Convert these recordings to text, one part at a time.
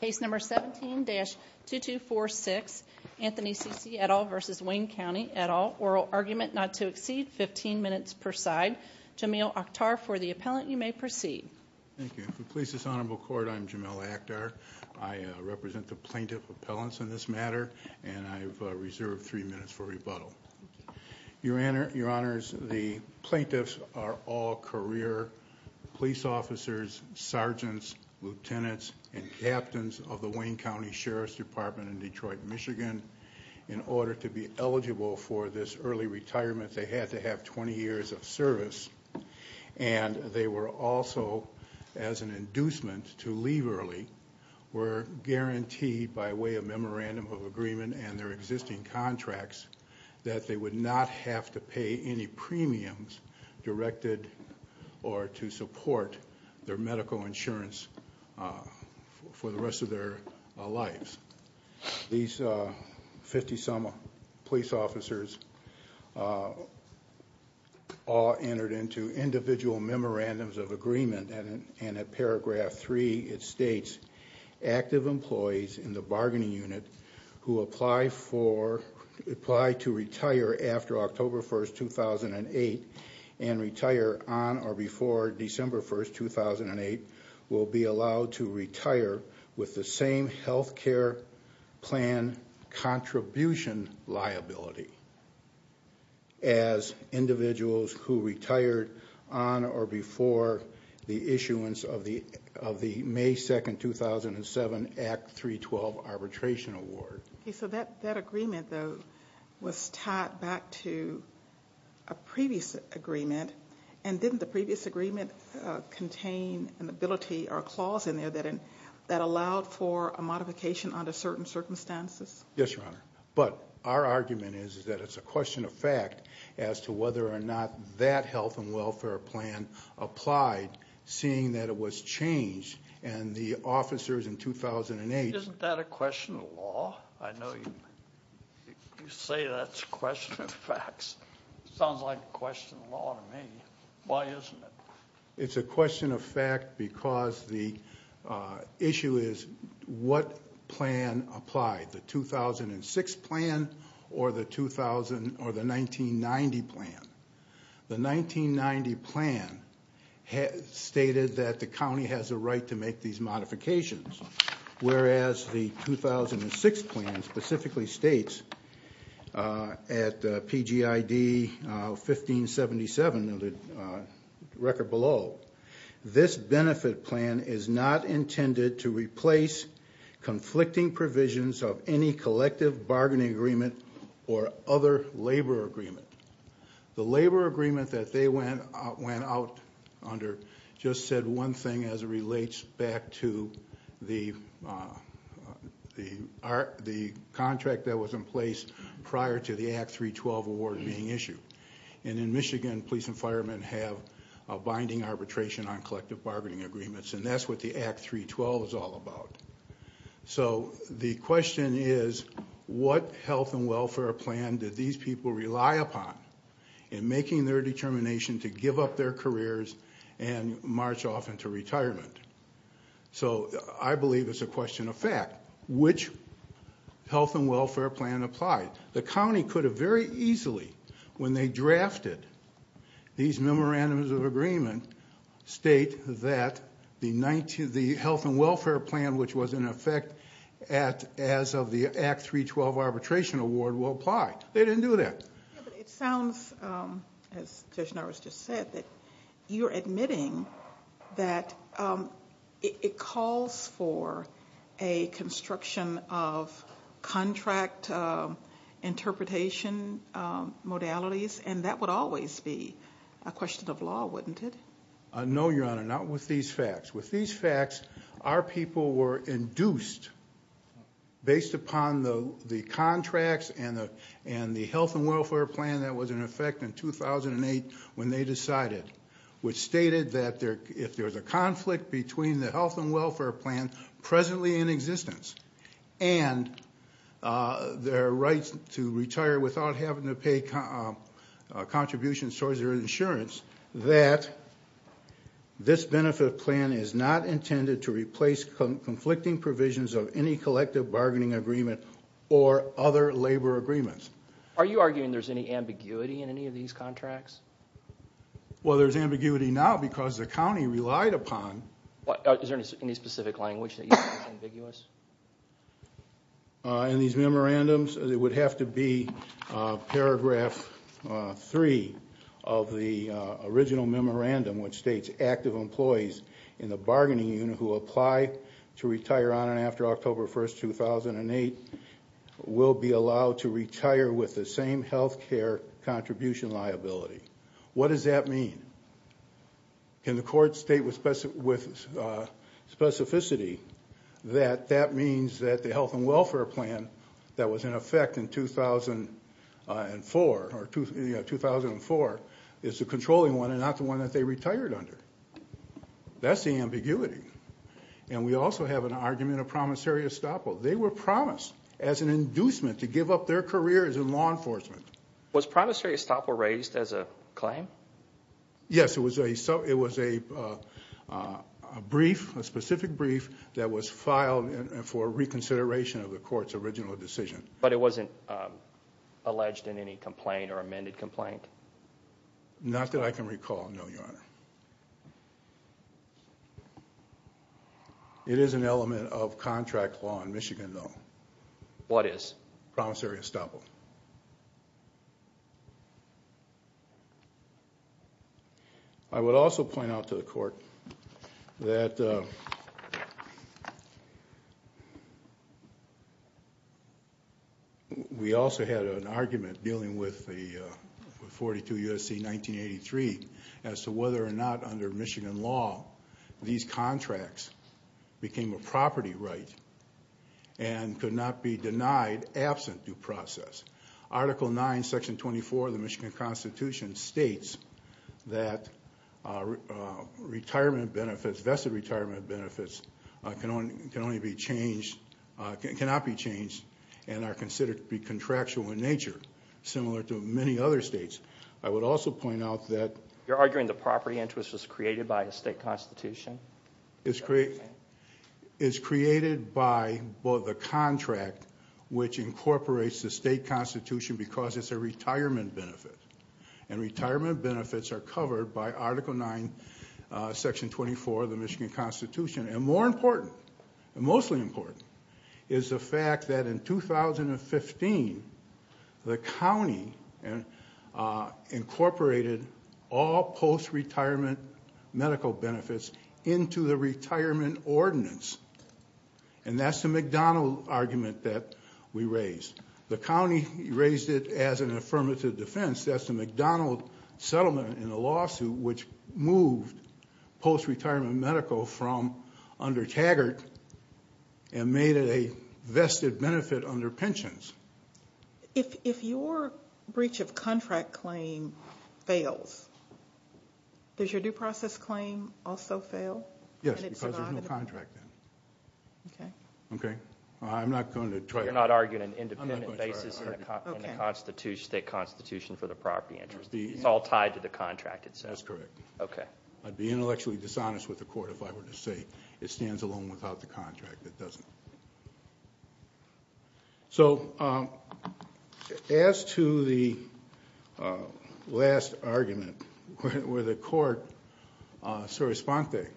Case number 17-2246, Anthony Cece et al. v. Wayne County et al., oral argument not to exceed 15 minutes per side. Jameel Akhtar, for the appellant, you may proceed. Thank you. For the Police's Honorable Court, I'm Jameel Akhtar. I represent the plaintiff appellants in this matter, and I've reserved three minutes for rebuttal. Your Honor, the plaintiffs are all career police officers, sergeants, lieutenants, and captains of the Wayne County Sheriff's Department in Detroit, Michigan. In order to be eligible for this early retirement, they had to have 20 years of service, and they were also, as an inducement to leave early, were guaranteed by way of memorandum of agreement and their existing contracts that they would not have to pay any premiums directed or to support their medical insurance for the rest of their lives. These 50-some police officers all entered into individual memorandums of agreement, and in paragraph 3, it states, Active employees in the bargaining unit who apply to retire after October 1, 2008, and retire on or before December 1, 2008, will be allowed to retire with the same health care plan contribution liability as individuals who retired on or before the issuance of the May 2, 2007, Act 312 Arbitration Award. Okay, so that agreement, though, was tied back to a previous agreement, and didn't the previous agreement contain an ability or a clause in there that allowed for a modification under certain circumstances? Yes, Your Honor, but our argument is that it's a question of fact as to whether or not that health and welfare plan applied, seeing that it was changed, and the officers in 2008 Isn't that a question of law? I know you say that's a question of facts. Sounds like a question of law to me. Why isn't it? It's a question of fact because the issue is what plan applied, the 2006 plan or the 1990 plan. The 1990 plan stated that the county has a right to make these modifications, whereas the 2006 plan specifically states at PGID 1577, the record below, this benefit plan is not intended to replace conflicting provisions of any collective bargaining agreement or other labor agreement. The labor agreement that they went out under just said one thing as it relates back to the contract that was in place prior to the Act 312 award being issued. And in Michigan, police and firemen have a binding arbitration on collective bargaining agreements, and that's what the Act 312 is all about. So the question is, what health and welfare plan did these people rely upon in making their determination to give up their careers and march off into retirement? So I believe it's a question of fact. Which health and welfare plan applied? The county could have very easily, when they drafted these memorandums of agreement, state that the health and welfare plan which was in effect as of the Act 312 arbitration award will apply. They didn't do that. It sounds, as Judge Norris just said, that you're admitting that it calls for a construction of contract interpretation modalities, and that would always be a question of law, wouldn't it? No, Your Honor, not with these facts. With these facts, our people were induced, based upon the contracts and the health and welfare plan that was in effect in 2008 when they decided, which stated that if there's a conflict between the health and welfare plan presently in existence and their right to retire without having to pay contributions towards their insurance, that this benefit plan is not intended to replace conflicting provisions of any collective bargaining agreement or other labor agreements. Are you arguing there's any ambiguity in any of these contracts? Well, there's ambiguity now because the county relied upon... In these memorandums, it would have to be paragraph 3 of the original memorandum which states active employees in the bargaining unit who apply to retire on and after October 1st, 2008 will be allowed to retire with the same health care contribution liability. What does that mean? Can the court state with specificity that that means that the health and welfare plan that was in effect in 2004 is the controlling one and not the one that they retired under? That's the ambiguity. And we also have an argument of promissory estoppel. They were promised as an inducement to give up their careers in law enforcement. Was promissory estoppel raised as a claim? Yes, it was a brief, a specific brief that was filed for reconsideration of the court's original decision. But it wasn't alleged in any complaint or amended complaint? Not that I can recall, no, Your Honor. It is an element of contract law in Michigan, though. What is? Promissory estoppel. I would also point out to the court that we also had an argument dealing with the 42 U.S.C. 1983 as to whether or not under Michigan law these contracts became a property right and could not be denied absent due process. Article 9, Section 24 of the Michigan Constitution states that retirement benefits, vested retirement benefits, can only be changed, cannot be changed, and are considered to be contractual in nature, similar to many other states. I would also point out that... You're arguing the property interest was created by a state constitution? It's created by the contract which incorporates the state constitution because it's a retirement benefit. And retirement benefits are covered by Article 9, Section 24 of the Michigan Constitution. And more important, and mostly important, is the fact that in 2015, the county incorporated all post-retirement medical benefits into the retirement ordinance. And that's the McDonald argument that we raised. The county raised it as an affirmative defense. That's the McDonald settlement in the lawsuit which moved post-retirement medical from under Taggart and made it a vested benefit under pensions. If your breach of contract claim fails, does your due process claim also fail? Yes, because there's no contract then. Okay. So you're not arguing an independent basis in the state constitution for the property interest. It's all tied to the contract itself. That's correct. Okay. I'd be intellectually dishonest with the court if I were to say it stands alone without the contract. It doesn't. So as to the last argument where the court, Soros-Ponte,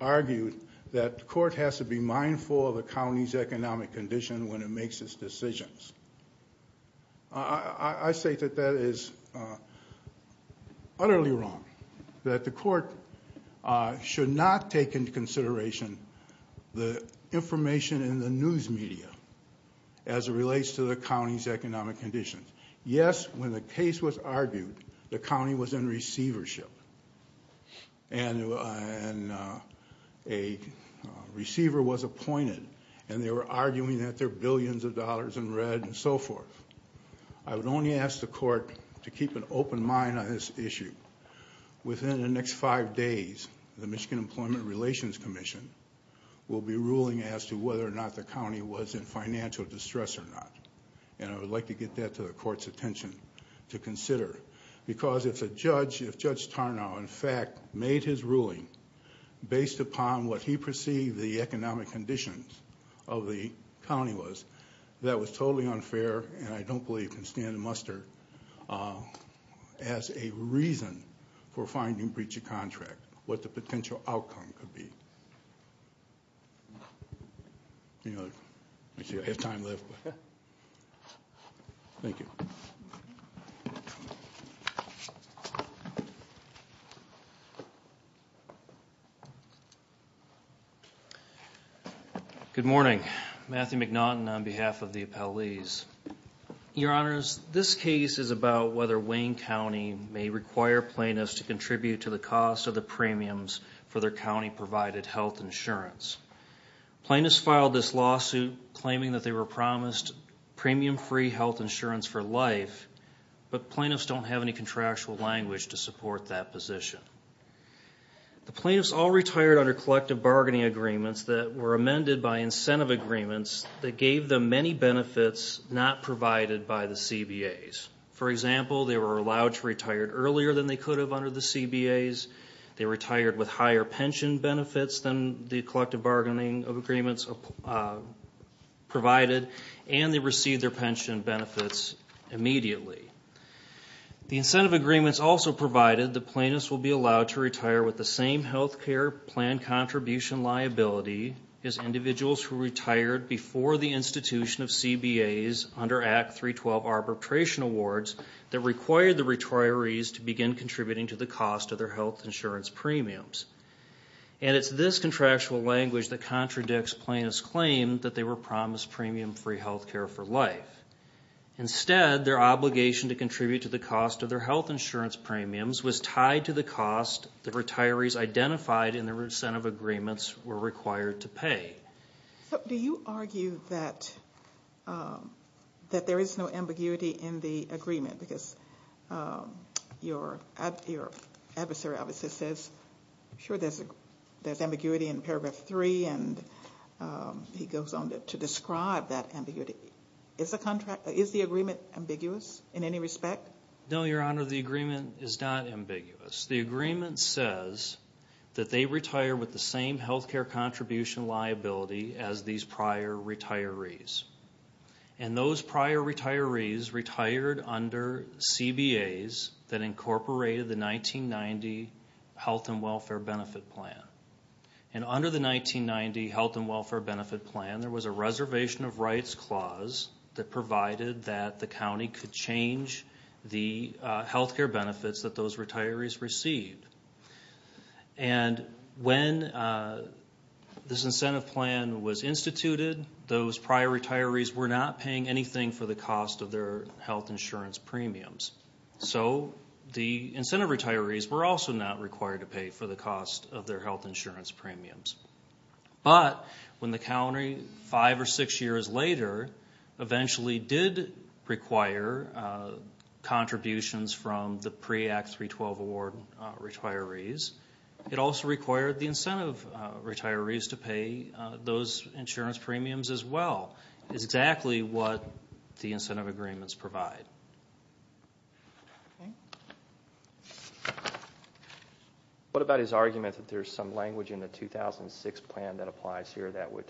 argued that the court has to be mindful of the county's economic condition when it makes its decisions. I say that that is utterly wrong. That the court should not take into consideration the information in the news media as it relates to the county's economic conditions. Yes, when the case was argued, the county was in receivership. And a receiver was appointed and they were arguing that there are billions of dollars in red and so forth. I would only ask the court to keep an open mind on this issue. Within the next five days, the Michigan Employment Relations Commission will be ruling as to whether or not the county was in financial distress or not. And I would like to get that to the court's attention to consider. Because if Judge Tarnow, in fact, made his ruling based upon what he perceived the economic conditions of the county was, that was totally unfair. And I don't believe he can stand and muster as a reason for finding breach of contract what the potential outcome could be. I see I have time left. Thank you. Thank you. Good morning. Matthew McNaughton on behalf of the appellees. Your Honors, this case is about whether Wayne County may require plaintiffs to contribute to the cost of the premiums for their county provided health insurance. Plaintiffs filed this lawsuit claiming that they were promised premium free health insurance for life. But plaintiffs don't have any contractual language to support that position. The plaintiffs all retired under collective bargaining agreements that were amended by incentive agreements that gave them many benefits not provided by the CBAs. For example, they were allowed to retire earlier than they could have under the CBAs. They retired with higher pension benefits than the collective bargaining agreements provided. And they received their pension benefits immediately. The incentive agreements also provided the plaintiffs will be allowed to retire with the same health care plan contribution liability as individuals who retired before the institution of CBAs under Act 312 Arbitration Awards that required the retirees to begin contributing to the cost of their health insurance. premiums. And it's this contractual language that contradicts plaintiffs' claim that they were promised premium free health care for life. Instead, their obligation to contribute to the cost of their health insurance premiums was tied to the cost the retirees identified in the incentive agreements were required to pay. Do you argue that there is no ambiguity in the agreement? Because your adversary obviously says, sure, there's ambiguity in Paragraph 3, and he goes on to describe that ambiguity. Is the agreement ambiguous in any respect? No, Your Honor, the agreement is not ambiguous. The agreement says that they retire with the same health care contribution liability as these prior retirees. And those prior retirees retired under CBAs that incorporated the 1990 Health and Welfare Benefit Plan. And under the 1990 Health and Welfare Benefit Plan, there was a reservation of rights clause that provided that the county could change the health care benefits that those retirees received. And when this incentive plan was instituted, those prior retirees were not paying anything for the cost of their health insurance premiums. So the incentive retirees were also not required to pay for the cost of their health insurance premiums. But when the county, five or six years later, eventually did require contributions from the pre-Act 312 award retirees, it also required the incentive retirees to pay those insurance premiums as well. It's exactly what the incentive agreements provide. What about his argument that there's some language in the 2006 plan that applies here that would...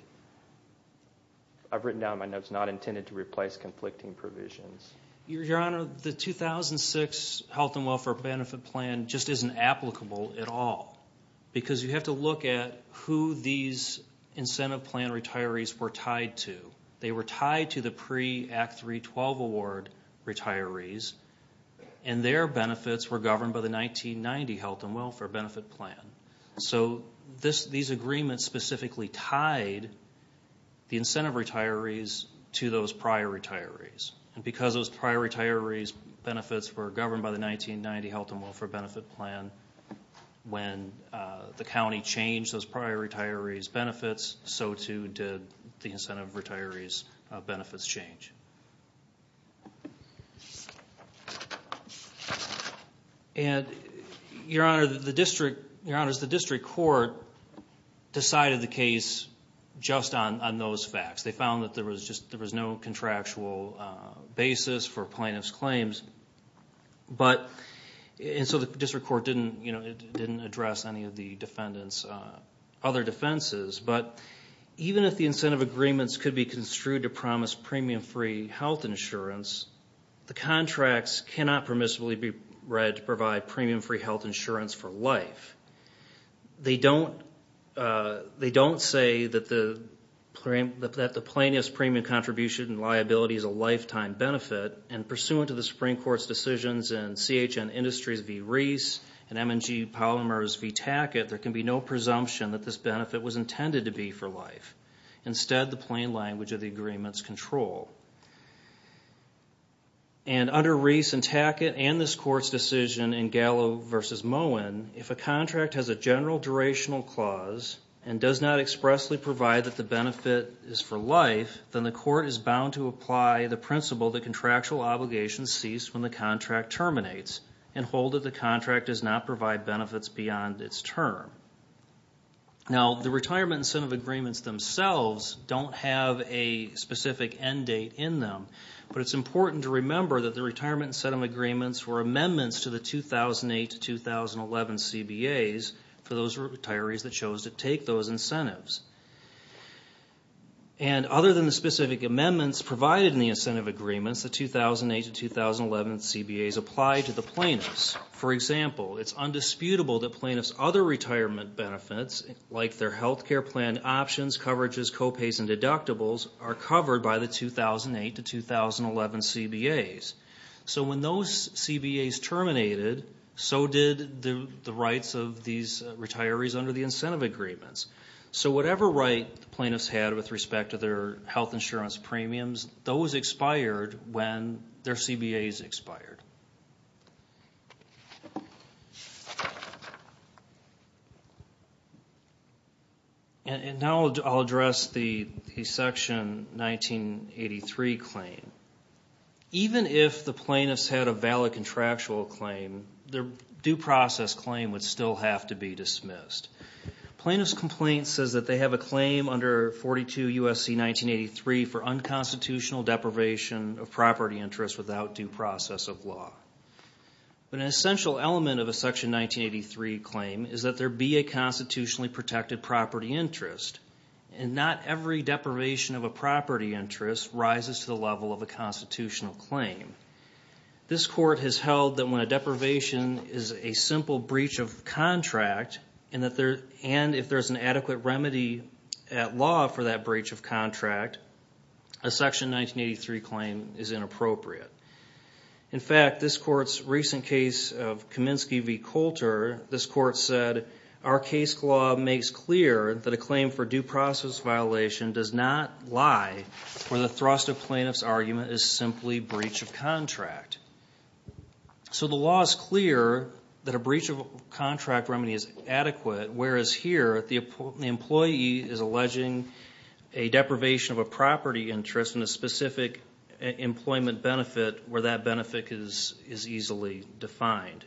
I've written down my notes, not intended to replace conflicting provisions. Your Honor, the 2006 Health and Welfare Benefit Plan just isn't applicable at all. Because you have to look at who these incentive plan retirees were tied to. They were tied to the pre-Act 312 award retirees, and their benefits were governed by the 1990 Health and Welfare Benefit Plan. So these agreements specifically tied the incentive retirees to those prior retirees. And because those prior retirees' benefits were governed by the 1990 Health and Welfare Benefit Plan, when the county changed those prior retirees' benefits, so too did the incentive retirees' benefits change. And, Your Honor, the district court decided the case just on those facts. They found that there was no contractual basis for plaintiff's claims. And so the district court didn't address any of the defendant's other defenses. But even if the incentive agreements could be construed to promise premium-free health insurance, the contracts cannot permissibly be read to provide premium-free health insurance for life. They don't say that the plaintiff's premium contribution and liability is a lifetime benefit. And pursuant to the Supreme Court's decisions in CHN Industries v. Reese and M&G Polymers v. Tackett, there can be no presumption that this benefit was intended to be for life. Instead, the plain language of the agreement is control. And under Reese and Tackett and this Court's decision in Gallo v. Moen, if a contract has a general durational clause and does not expressly provide that the benefit is for life, then the Court is bound to apply the principle that contractual obligations cease when the contract terminates and hold that the contract does not provide benefits beyond its term. Now, the retirement incentive agreements themselves don't have a specific end date in them. But it's important to remember that the retirement incentive agreements were amendments to the 2008-2011 CBAs for those retirees that chose to take those incentives. And other than the specific amendments provided in the incentive agreements, the 2008-2011 CBAs apply to the plaintiffs. For example, it's undisputable that plaintiffs' other retirement benefits, like their health care plan options, coverages, co-pays, and deductibles, are covered by the 2008-2011 CBAs. So when those CBAs terminated, so did the rights of these retirees under the incentive agreements. Whatever right the plaintiffs had with respect to their health insurance premiums, those expired when their CBAs expired. And now I'll address the Section 1983 claim. Even if the plaintiffs had a valid contractual claim, their due process claim would still have to be dismissed. Plaintiffs' complaint says that they have a claim under 42 U.S.C. 1983 for unconstitutional deprivation of property interest without due process of law. But an essential element of a Section 1983 claim is that there be a constitutionally protected property interest. And not every deprivation of a property interest rises to the level of a constitutional claim. This Court has held that when a deprivation is a simple breach of contract, and if there's an adequate remedy at law for that breach of contract, a Section 1983 claim is inappropriate. In fact, this Court's recent case of Kaminsky v. Coulter, this Court said, our case law makes clear that a claim for due process violation does not lie where the thrust of plaintiff's argument is simply breach of contract. So the law is clear that a breach of contract remedy is adequate, whereas here the employee is alleging a deprivation of a property interest and a specific employment benefit where that benefit is easily defined.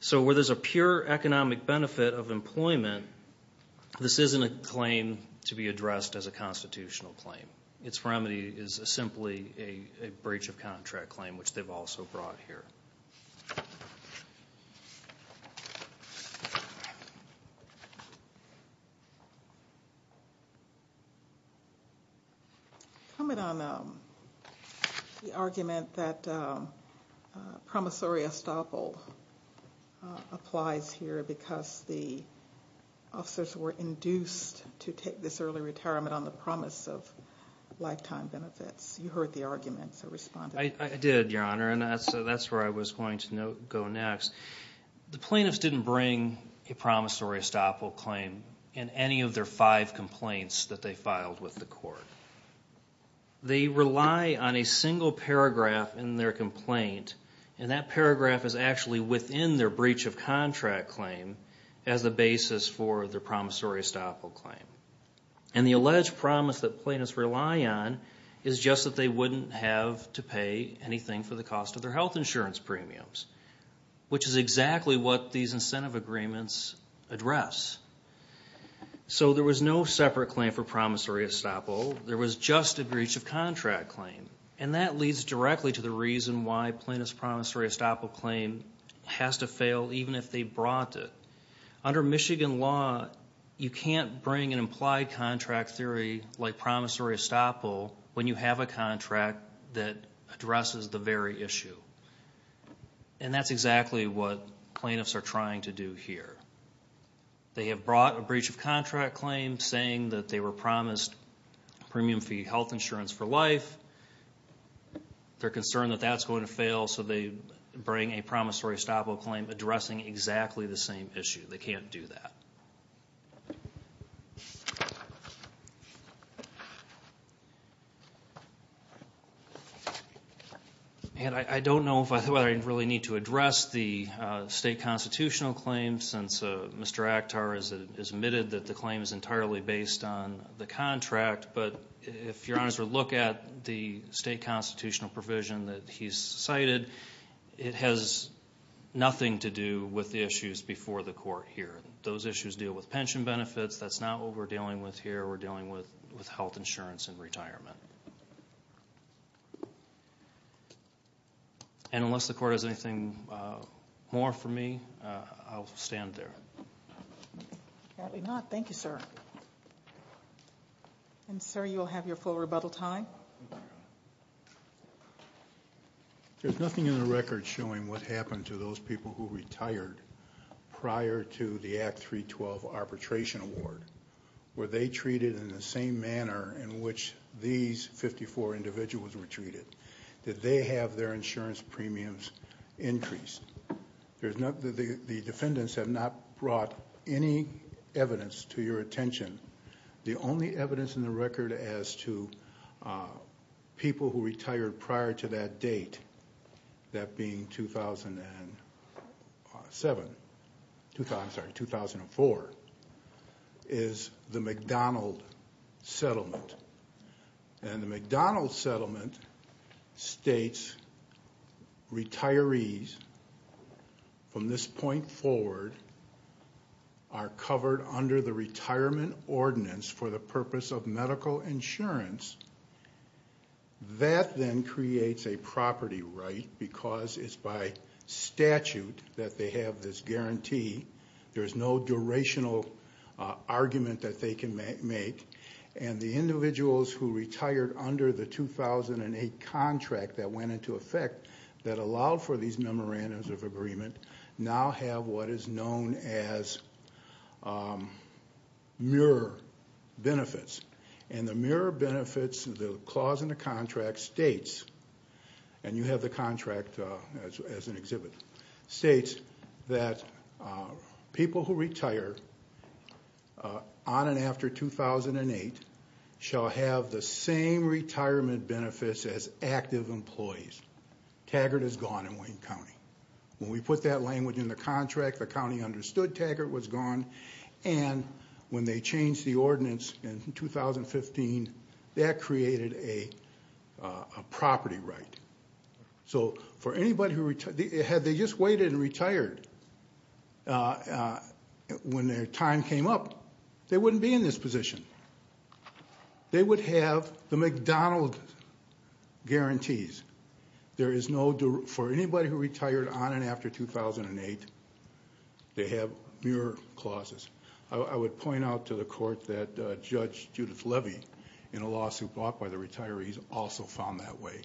So where there's a pure economic benefit of employment, this isn't a claim to be addressed as a constitutional claim. Its remedy is simply a breach of contract claim, which they've also brought here. Comment on the argument that promissory estoppel applies here because the officers were induced to take this early retirement on the promise of lifetime benefits. You heard the argument, so respond. I did, Your Honor, and that's where I was going to go next. The plaintiffs didn't bring a promissory estoppel claim in any of their five complaints that they filed with the Court. They rely on a single paragraph in their complaint, and that paragraph is actually within their breach of contract claim as the basis for their promissory estoppel claim. And the alleged promise that plaintiffs rely on is just that they wouldn't have to pay anything for the cost of their health insurance premiums, which is exactly what these incentive agreements address. So there was no separate claim for promissory estoppel. There was just a breach of contract claim, and that leads directly to the reason why plaintiff's promissory estoppel claim has to fail even if they brought it. Under Michigan law, you can't bring an implied contract theory like promissory estoppel when you have a contract that addresses the very issue. And that's exactly what plaintiffs are trying to do here. They have brought a breach of contract claim saying that they were promised premium fee health insurance for life. They're concerned that that's going to fail, so they bring a promissory estoppel claim addressing exactly the same issue. They can't do that. And I don't know if I really need to address the state constitutional claim, since Mr. Akhtar has admitted that the claim is entirely based on the contract, but if your honors would look at the state constitutional provision that he's cited, it has nothing to do with the issues before the court here. Those issues deal with pension benefits. That's not what we're dealing with here. We're dealing with health insurance and retirement. And unless the court has anything more for me, I'll stand there. Apparently not. Thank you, sir. And sir, you'll have your full rebuttal time. Thank you, your honor. There's nothing in the record showing what happened to those people who retired prior to the Act 312 arbitration award. Were they treated in the same manner in which these 54 individuals were treated? Did they have their insurance premiums increased? The defendants have not brought any evidence to your attention. The only evidence in the record as to people who retired prior to that date, that being 2007, I'm sorry, 2004, is the McDonald Settlement. And the McDonald Settlement states retirees from this point forward are covered under the retirement ordinance for the purpose of medical insurance. That then creates a property right because it's by statute that they have this guarantee. There's no durational argument that they can make. And the individuals who retired under the 2008 contract that went into effect that allowed for these memorandums of agreement now have what is known as mirror benefits. And the mirror benefits, the clause in the contract states, and you have the contract as an exhibit, states that people who retire on and after 2008 shall have the same retirement benefits as active employees. Taggart is gone in Wayne County. When we put that language in the contract, the county understood Taggart was gone. And when they changed the ordinance in 2015, that created a property right. So for anybody who, had they just waited and retired when their time came up, they wouldn't be in this position. They would have the McDonald guarantees. There is no, for anybody who retired on and after 2008, they have mirror clauses. I would point out to the court that Judge Judith Levy in a lawsuit brought by the retirees also found that way.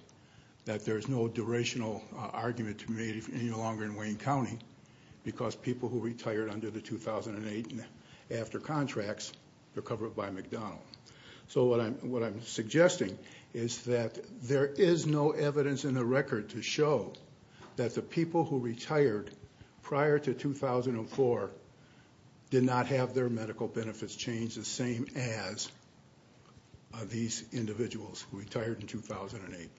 That there's no durational argument to be made any longer in Wayne County because people who retired under the 2008 and after contracts were covered by McDonald. is that there is no evidence in the record to show that the people who retired prior to 2004 did not have their medical benefits changed the same as these individuals who retired in 2008.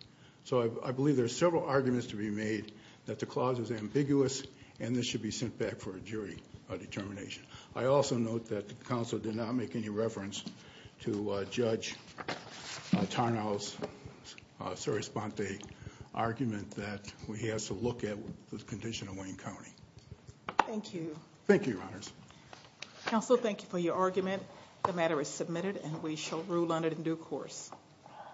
So I believe there's several arguments to be made that the clause is ambiguous and this should be sent back for a jury determination. I also note that the council did not make any reference to Judge Tarnow's sere sponte argument that he has to look at the condition of Wayne County. Thank you. Thank you, Your Honors. Council, thank you for your argument. The matter is submitted and we shall rule on it in due course.